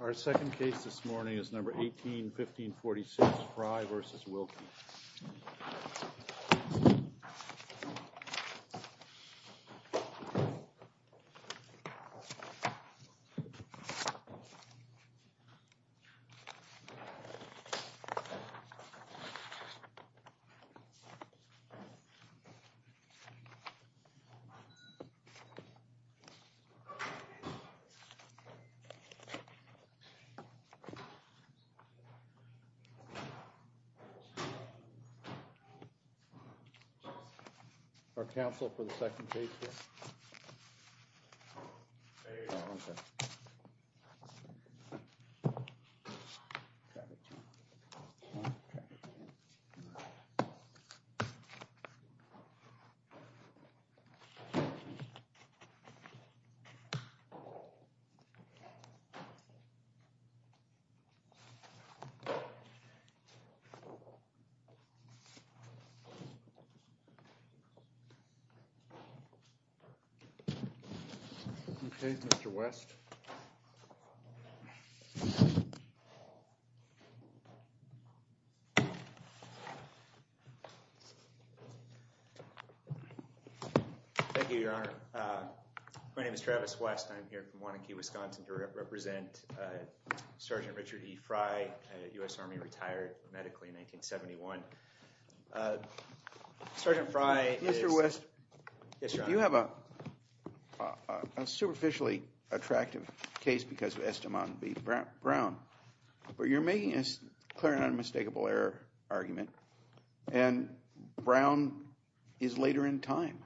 Our second case this morning is number 18-1546 Fry v. Wilkie. Our counsel for the second case here. Okay, Mr. West. Thank you, Your Honor. My name is Travis West. I'm here from Wanakie, Wisconsin to represent Sergeant Richard E. Fry, a U.S. Army retired medically in 1971. Sergeant Fry is— Mr. West. Yes, Your Honor. You have a superficially attractive case because of Esteban v. Brown, but you're making a clear and unmistakable error argument. And Brown is later in time,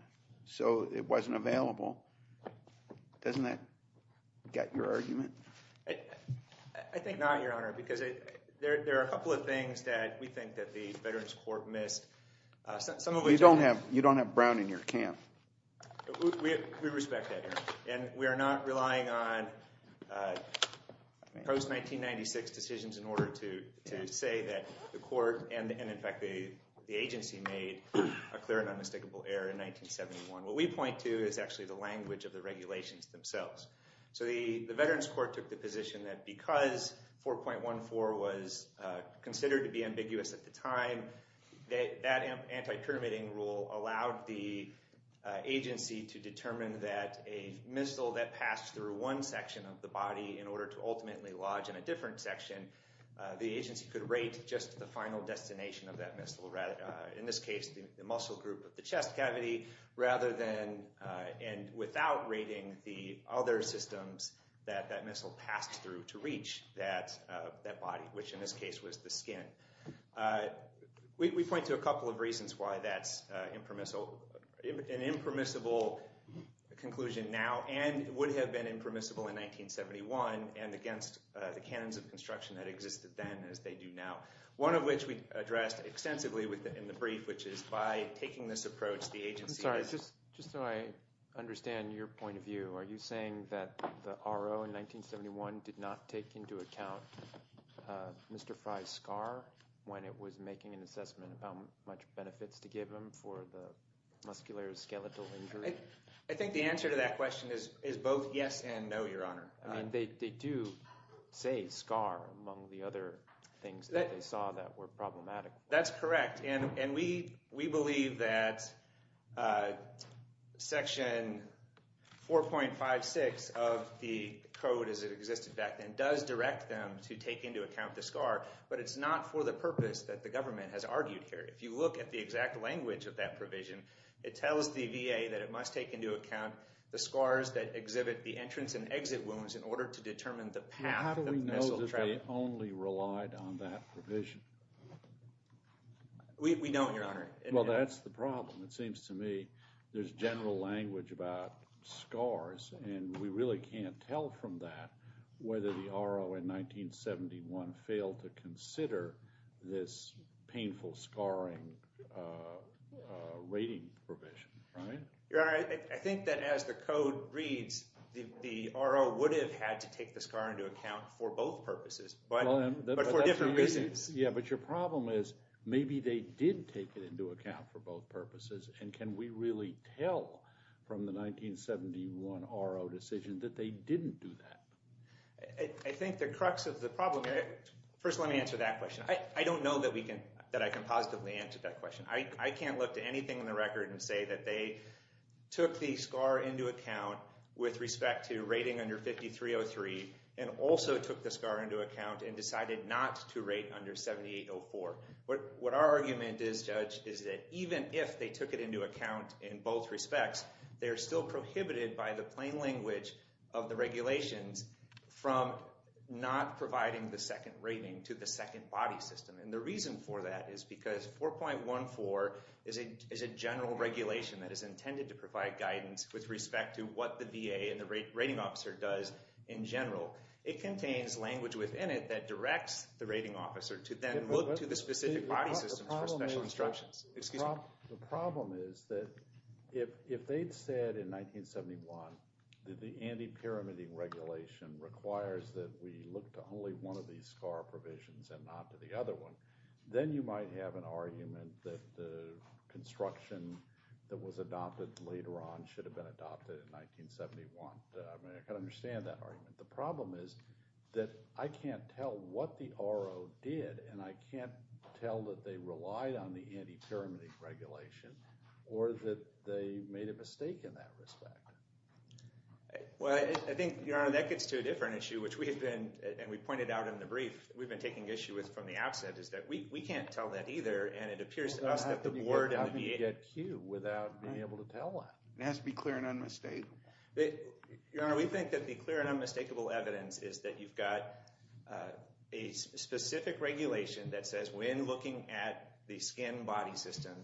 so it wasn't available. Doesn't that get your argument? I think not, Your Honor, because there are a couple of things that we think that the Veterans Court missed. Some of which— You don't have Brown in your camp. We respect that, Your Honor. And we are not relying on post-1996 decisions in order to say that the court and, in fact, the agency made a clear and unmistakable error in 1971. What we point to is actually the language of the regulations themselves. So the Veterans Court took the position that because 4.14 was considered to be ambiguous at the time, that anti-permitting rule allowed the agency to determine that a missile that passed through one section of the body in order to ultimately lodge in a different section, the agency could rate just the final destination of that missile. In this case, the muscle group of the chest cavity rather than—and without rating the other systems that that missile passed through to reach that body, which in this case was the skin. We point to a couple of reasons why that's an impermissible conclusion now and would have been impermissible in 1971 and against the canons of construction that existed then as they do now. One of which we addressed extensively in the brief, which is by taking this approach, the agency— I'm sorry. Just so I understand your point of view, are you saying that the RO in 1971 did not take into account Mr. Fry's scar when it was making an assessment of how much benefits to give him for the muscular skeletal injury? I think the answer to that question is both yes and no, Your Honor. I mean, they do say scar among the other things that they saw that were problematic. That's correct. And we believe that Section 4.56 of the code as it existed back then does direct them to take into account the scar, but it's not for the purpose that the government has argued here. If you look at the exact language of that provision, it tells the VA that it must take into account the scars that exhibit the entrance and exit wounds in order to determine the path that the missile traveled. The VA only relied on that provision. We don't, Your Honor. Well, that's the problem. It seems to me there's general language about scars, and we really can't tell from that whether the RO in 1971 failed to consider this painful scarring rating provision, right? Your Honor, I think that as the code reads, the RO would have had to take the scar into account for both purposes, but for different reasons. Yeah, but your problem is maybe they did take it into account for both purposes, and can we really tell from the 1971 RO decision that they didn't do that? I think the crux of the problem—first, let me answer that question. I don't know that I can positively answer that question. I can't look to anything in the record and say that they took the scar into account with respect to rating under 5303 and also took the scar into account and decided not to rate under 7804. What our argument is, Judge, is that even if they took it into account in both respects, they are still prohibited by the plain language of the regulations from not providing the second rating to the second body system. And the reason for that is because 4.14 is a general regulation that is intended to provide guidance with respect to what the VA and the rating officer does in general. It contains language within it that directs the rating officer to then look to the specific body systems for special instructions. Excuse me. The problem is that if they'd said in 1971 that the anti-pyramiding regulation requires that we look to only one of these scar provisions and not to the other one, then you might have an argument that the construction that was adopted later on should have been adopted in 1971. I mean, I can understand that argument. The problem is that I can't tell what the RO did, and I can't tell that they relied on the anti-pyramiding regulation or that they made a mistake in that respect. Well, I think, Your Honor, that gets to a different issue, which we have been, and we pointed out in the brief, we've been taking issue with from the outset is that we can't tell that either, and it appears to us that the board of the VA... How can you get Q without being able to tell that? It has to be clear and unmistakable. Your Honor, we think that the clear and unmistakable evidence is that you've got a specific regulation that says when looking at the skin body system,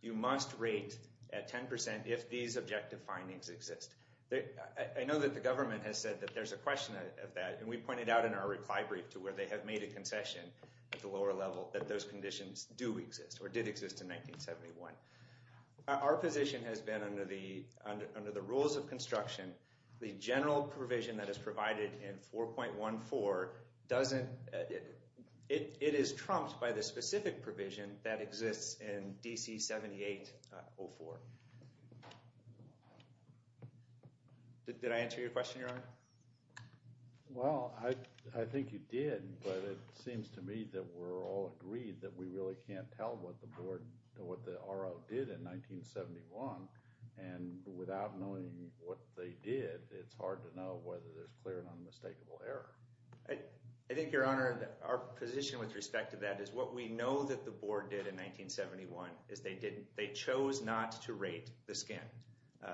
you must rate at 10% if these objective findings exist. I know that the government has said that there's a question of that, and we pointed out in our reply brief to where they have made a concession at the lower level that those conditions do exist or did exist in 1971. Our position has been under the rules of construction, the general provision that is provided in 4.14 doesn't... It is trumped by the specific provision that exists in DC 7804. Did I answer your question, Your Honor? Well, I think you did, but it seems to me that we're all agreed that we really can't tell what the board, what the RO did in 1971, and without knowing what they did, it's hard to know whether there's clear and unmistakable error. I think, Your Honor, our position with respect to that is what we know that the board did in 1971 is they didn't... They chose not to rate the skin,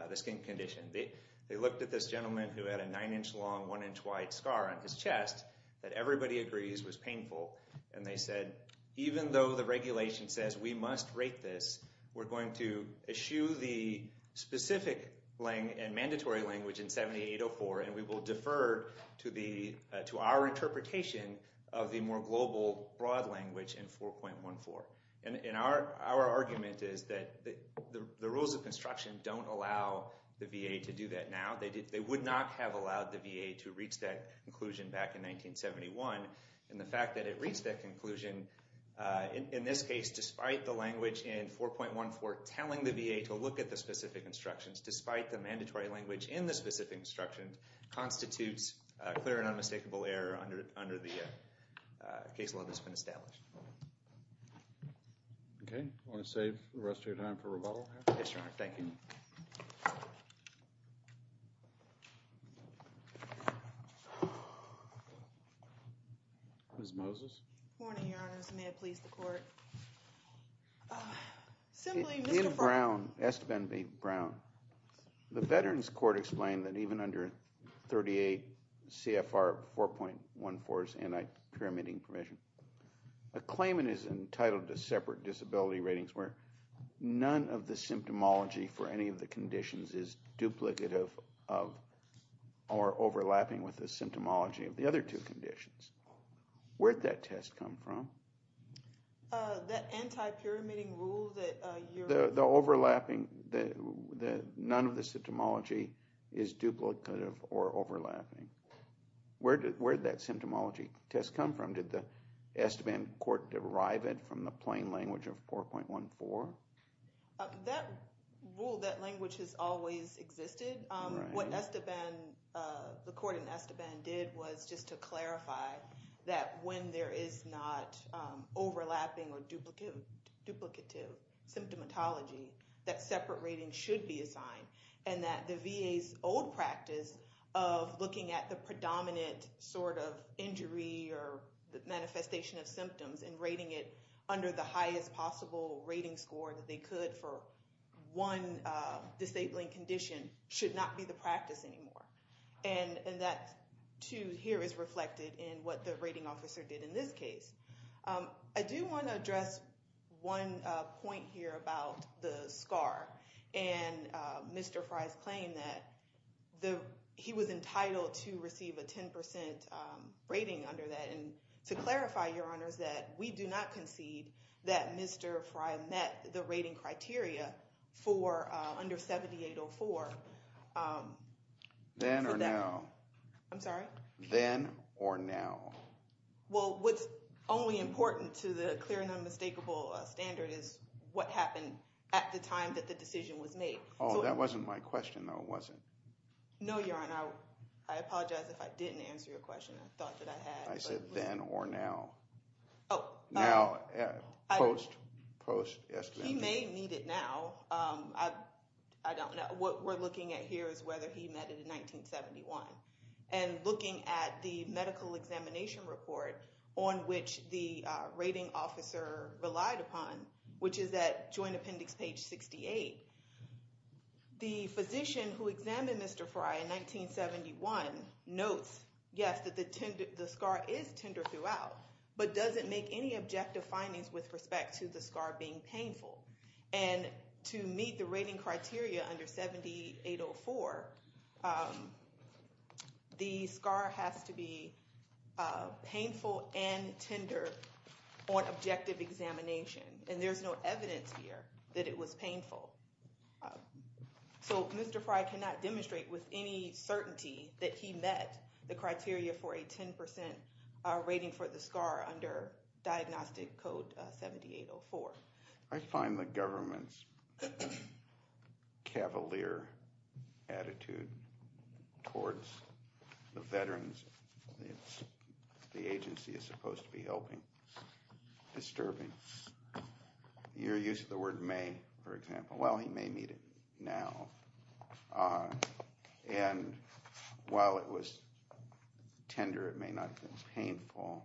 the skin condition. They looked at this gentleman who had a nine-inch long, one-inch wide scar on his chest that everybody agrees was painful, and they said, even though the regulation says we must rate this, we're going to eschew the specific and mandatory language in 7804, and we will defer to our interpretation of the more global broad language in 4.14. Our argument is that the rules of construction don't allow the VA to do that now. They would not have allowed the VA to reach that conclusion back in 1971, and the fact that it reached that conclusion, in this case, despite the language in 4.14 telling the VA to look at the specific instructions, despite the mandatory language in the specific instructions constitutes clear and unmistakable error under the case law that's been established. Okay. Want to save the rest of your time for rebuttal? Yes, Your Honor. Thank you. Ms. Moses. Morning, Your Honors. May it please the Court. Assemblyman, Mr. Brown. David Brown, Esteban B. Brown. The Veterans Court explained that even under 38 CFR 4.14's anti-pyramiding permission, a claimant is entitled to separate disability ratings where none of the symptomology for any of the conditions is duplicative of or overlapping with the symptomology of the other two conditions. Where did that test come from? That anti-pyramiding rule that you're... The overlapping, that none of the symptomology is duplicative or overlapping. Where did that symptomology test come from? Did the Esteban Court derive it from the plain language of 4.14? That rule, that language has always existed. What Esteban, the Court in Esteban did was just to clarify that when there is not overlapping or duplicative symptomatology, that separate ratings should be assigned. And that the VA's old practice of looking at the predominant sort of injury or the manifestation of symptoms and rating it under the highest possible rating score that they could for one disabling condition should not be the practice anymore. And that, too, here is reflected in what the rating officer did in this case. I do want to address one point here about the SCAR and Mr. Frye's claim that he was entitled to receive a 10% rating under that. And to clarify, Your Honors, that we do not concede that Mr. Frye met the rating criteria for under 7804. Then or now? I'm sorry? Then or now? Well, what's only important to the clear and unmistakable standard is what happened at the time that the decision was made. Oh, that wasn't my question, though, was it? No, Your Honor, I apologize if I didn't answer your question. I thought that I had. I said then or now. Oh. Now, post-Esteban. He may need it now. I don't know. What we're looking at here is whether he met it in 1971. And looking at the medical examination report on which the rating officer relied upon, which is at Joint Appendix page 68, the physician who examined Mr. Frye in 1971 notes, yes, that the SCAR is tender throughout, but doesn't make any objective findings with respect to the SCAR being painful. And to meet the rating criteria under 7804, the SCAR has to be painful and tender on objective examination. And there's no evidence here that it was painful. So Mr. Frye cannot demonstrate with any certainty that he met the criteria for a 10% rating for the SCAR under Diagnostic Code 7804. I find the government's cavalier attitude towards the veterans, the agency is supposed to be helping, disturbing. Your use of the word may, for example. Well, he may need it now. And while it was tender, it may not have been painful.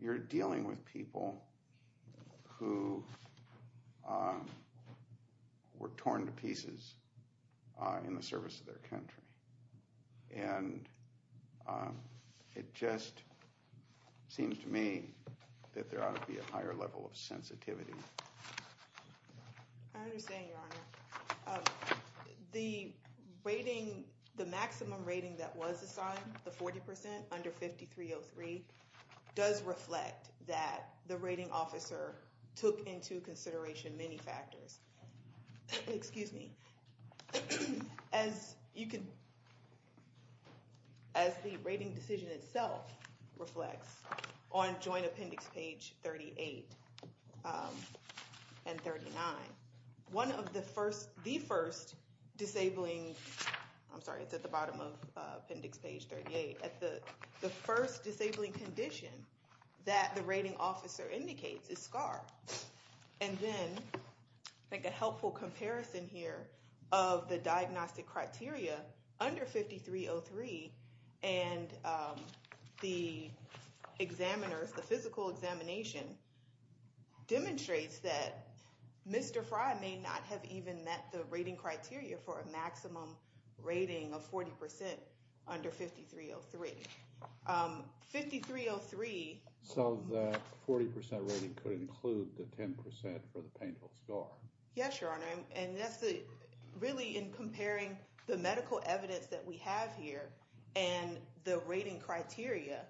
You're dealing with people who were torn to pieces in the service of their country. And it just seems to me that there ought to be a higher level of sensitivity. I understand, Your Honor. The rating, the maximum rating that was assigned, the 40% under 5303, does reflect that the rating officer took into consideration many factors. Excuse me. As you can, as the rating decision itself reflects on joint appendix page 38 and 39, one of the first, the first disabling, I'm sorry, it's at the bottom of appendix page 38, the first disabling condition that the rating officer indicates is SCAR. And then, I think a helpful comparison here of the diagnostic criteria under 5303 and the examiners, the physical examination, demonstrates that Mr. Frye may not have even met the rating criteria for a maximum rating of 40% under 5303. 5303. So the 40% rating could include the 10% for the painful SCAR. Yes, Your Honor. And that's the, really in comparing the medical evidence that we have here and the rating criteria,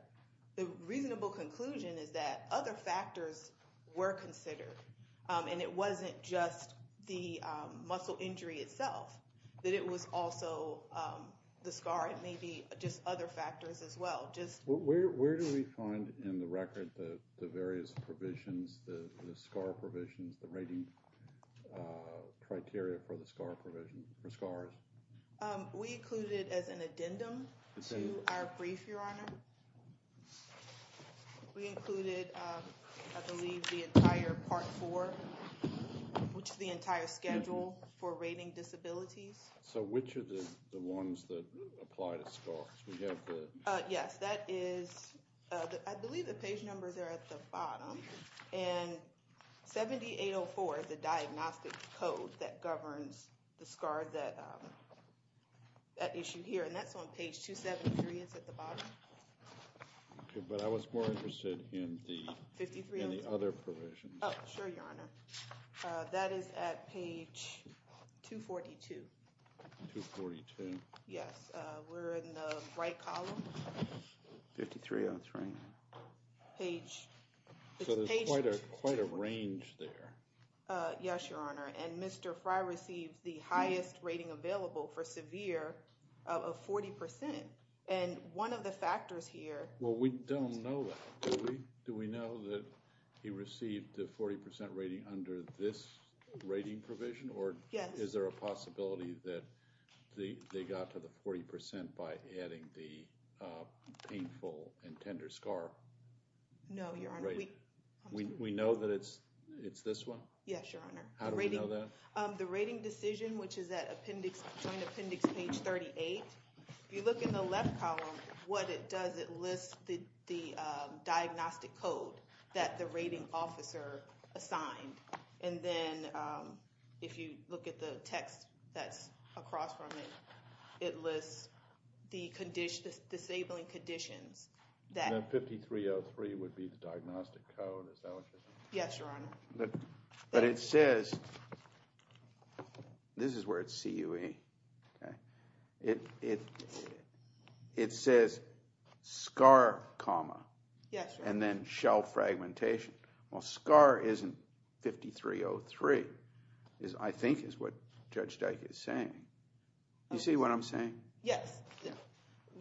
the reasonable conclusion is that other factors were considered. And it wasn't just the muscle injury itself, that it was also the SCAR. It may be just other factors as well. Where do we find in the record the various provisions, the SCAR provisions, the rating criteria for the SCAR provision, for SCARs? We include it as an addendum to our brief, Your Honor. We included, I believe, the entire part four, which is the entire schedule for rating disabilities. So which are the ones that apply to SCARs? We have the... Yes, that is, I believe the page numbers are at the bottom. And 7804 is the diagnostic code that governs the SCAR that issue here. And that's on page 273, it's at the bottom. Okay, but I was more interested in the... 5303. In the other provisions. Oh, sure, Your Honor. That is at page 242. 242. Yes, we're in the right column. 5303. Page... So there's quite a range there. Yes, Your Honor. And Mr. Fry received the highest rating available for severe of 40%. And one of the factors here... Well, we don't know that. Do we know that he received the 40% rating under this rating provision? Or is there a possibility that they got to the 40% by adding the painful and tender SCAR? No, Your Honor. We know that it's this one? Yes, Your Honor. How do we know that? The rating decision, which is at appendix, joint appendix page 38. If you look in the left column, what it does, it lists the diagnostic code that the rating officer assigned. And then if you look at the text that's across from it, it lists the disabling conditions that... 5303 would be the diagnostic code, is that what you're saying? Yes, Your Honor. But it says... This is where it's CUA. It says SCAR comma. Yes, Your Honor. And then shell fragmentation. Well, SCAR isn't 5303, I think is what Judge Dyke is saying. Do you see what I'm saying? Yes.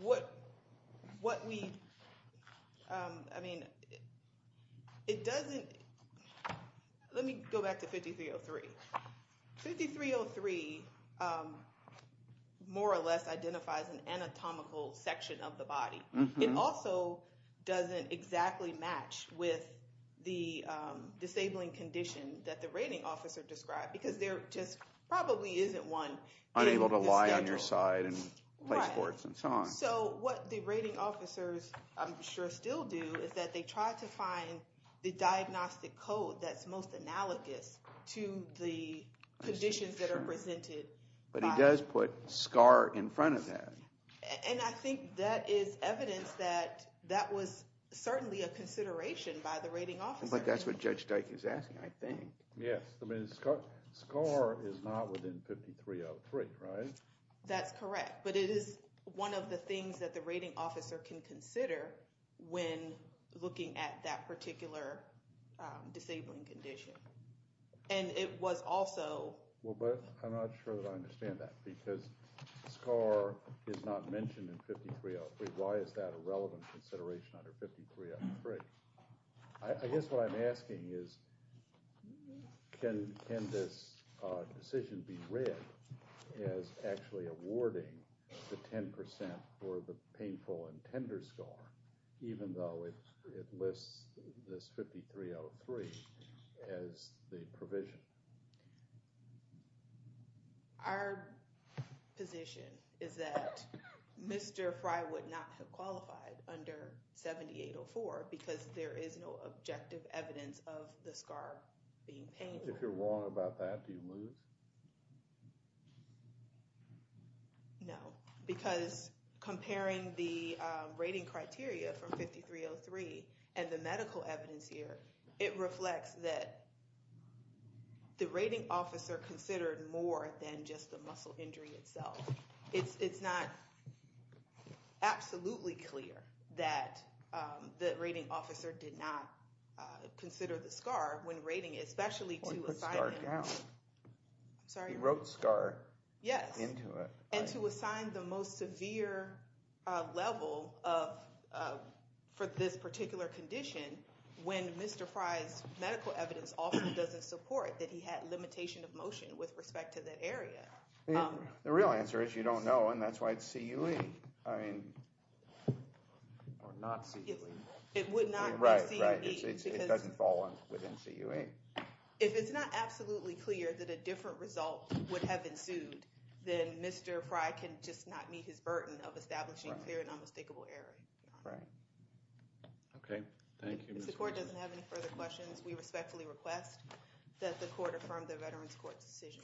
What we... I mean, it doesn't... Let me go back to 5303. 5303 more or less identifies an anatomical section of the body. It also doesn't exactly match with the disabling condition that the rating officer described because there just probably isn't one in the schedule. Unable to lie on your side and play sports and so on. So what the rating officers I'm sure still do is that they try to find the diagnostic code that's most analogous to the conditions that are presented. But he does put SCAR in front of that. And I think that is evidence that that was certainly a consideration by the rating officer. But that's what Judge Dyke is asking, I think. Yes. I mean, SCAR is not within 5303, right? That's correct. But it is one of the things that the rating officer can consider when looking at that particular disabling condition. And it was also... Well, but I'm not sure that I understand that because SCAR is not mentioned in 5303. Why is that a relevant consideration under 5303? I guess what I'm asking is, can this decision be read as actually awarding the 10% for the painful and tender SCAR even though it lists this 5303 as the provision? Our position is that Mr. Fry would not have qualified under 7804 because there is no objective evidence of the SCAR being painful. If you're wrong about that, do you lose? No. Because comparing the rating criteria from 5303 and the medical evidence here, it reflects that the rating officer considered more than just the muscle injury itself. It's not absolutely clear that the rating officer did not consider the SCAR when rating, especially to assign... Well, he put SCAR down. Sorry? He wrote SCAR into it. And to assign the most severe level for this particular condition when Mr. Fry's medical evidence often doesn't support that he had limitation of motion with respect to that area. The real answer is you don't know, and that's why it's CUE. I mean, or not CUE. It would not be CUE. Right, right. It doesn't fall within CUE. If it's not absolutely clear that a different result would have ensued, then Mr. Fry can just not meet his burden of establishing clear and unmistakable error. Right. Okay. Thank you. If the court doesn't have any further questions, we respectfully request that the court affirm the Veterans Court's decision.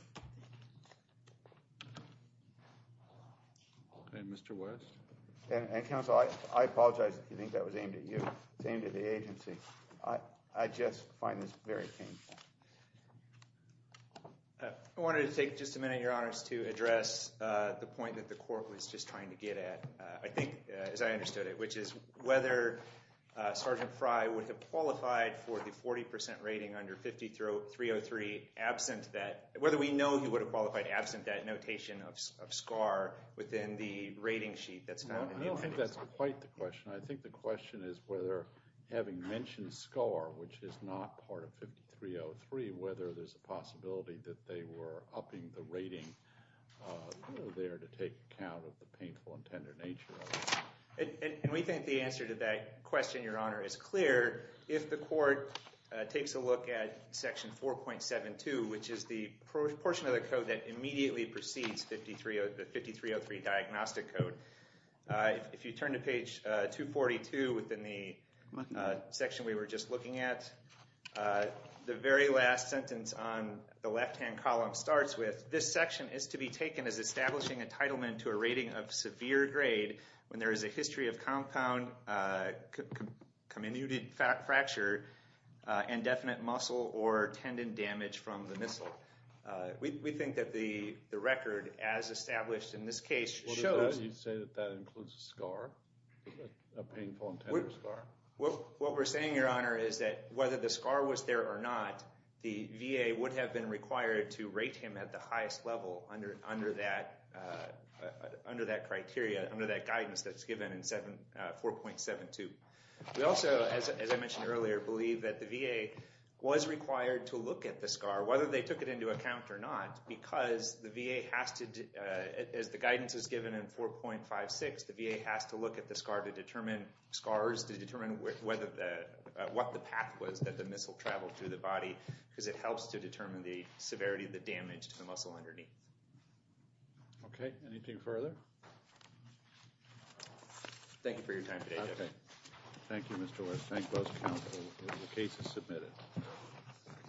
And Mr. West? And, counsel, I apologize if you think that was aimed at you. It's aimed at the agency. I just find this very painful. I wanted to take just a minute, Your Honors, to address the point that the court was just trying to get at, I think, as I understood it, which is whether Sergeant Fry would have qualified for the 40% rating under 5303 whether we know he would have qualified absent that notation of SCAR within the rating sheet that's found in the interview. I don't think that's quite the question. I think the question is whether, having mentioned SCAR, which is not part of 5303, whether there's a possibility that they were upping the rating there to take account of the painful and tender nature of it. And we think the answer to that question, Your Honor, is clear. If the court takes a look at Section 4.72, which is the portion of the code that immediately precedes the 5303 diagnostic code, if you turn to page 242 within the section we were just looking at, the very last sentence on the left-hand column starts with, this section is to be taken as establishing entitlement to a rating of severe grade when there is a history of compound, comminuted fracture, indefinite muscle or tendon damage from the missile. We think that the record, as established in this case, shows. You say that that includes SCAR, a painful and tender SCAR. What we're saying, Your Honor, is that whether the SCAR was there or not, the VA would have been required to rate him at the highest level under that criteria, under that guidance that's given in 4.72. We also, as I mentioned earlier, believe that the VA was required to look at the SCAR, whether they took it into account or not, because the VA has to, as the guidance is given in 4.56, the VA has to look at the SCAR to determine, SCARs to determine what the path was that the missile traveled through the body because it helps to determine the severity of the damage to the muscle underneath. Okay. Anything further? Thank you for your time today. Thank you, Mr. Lewis. Thank both counsel. The case is submitted.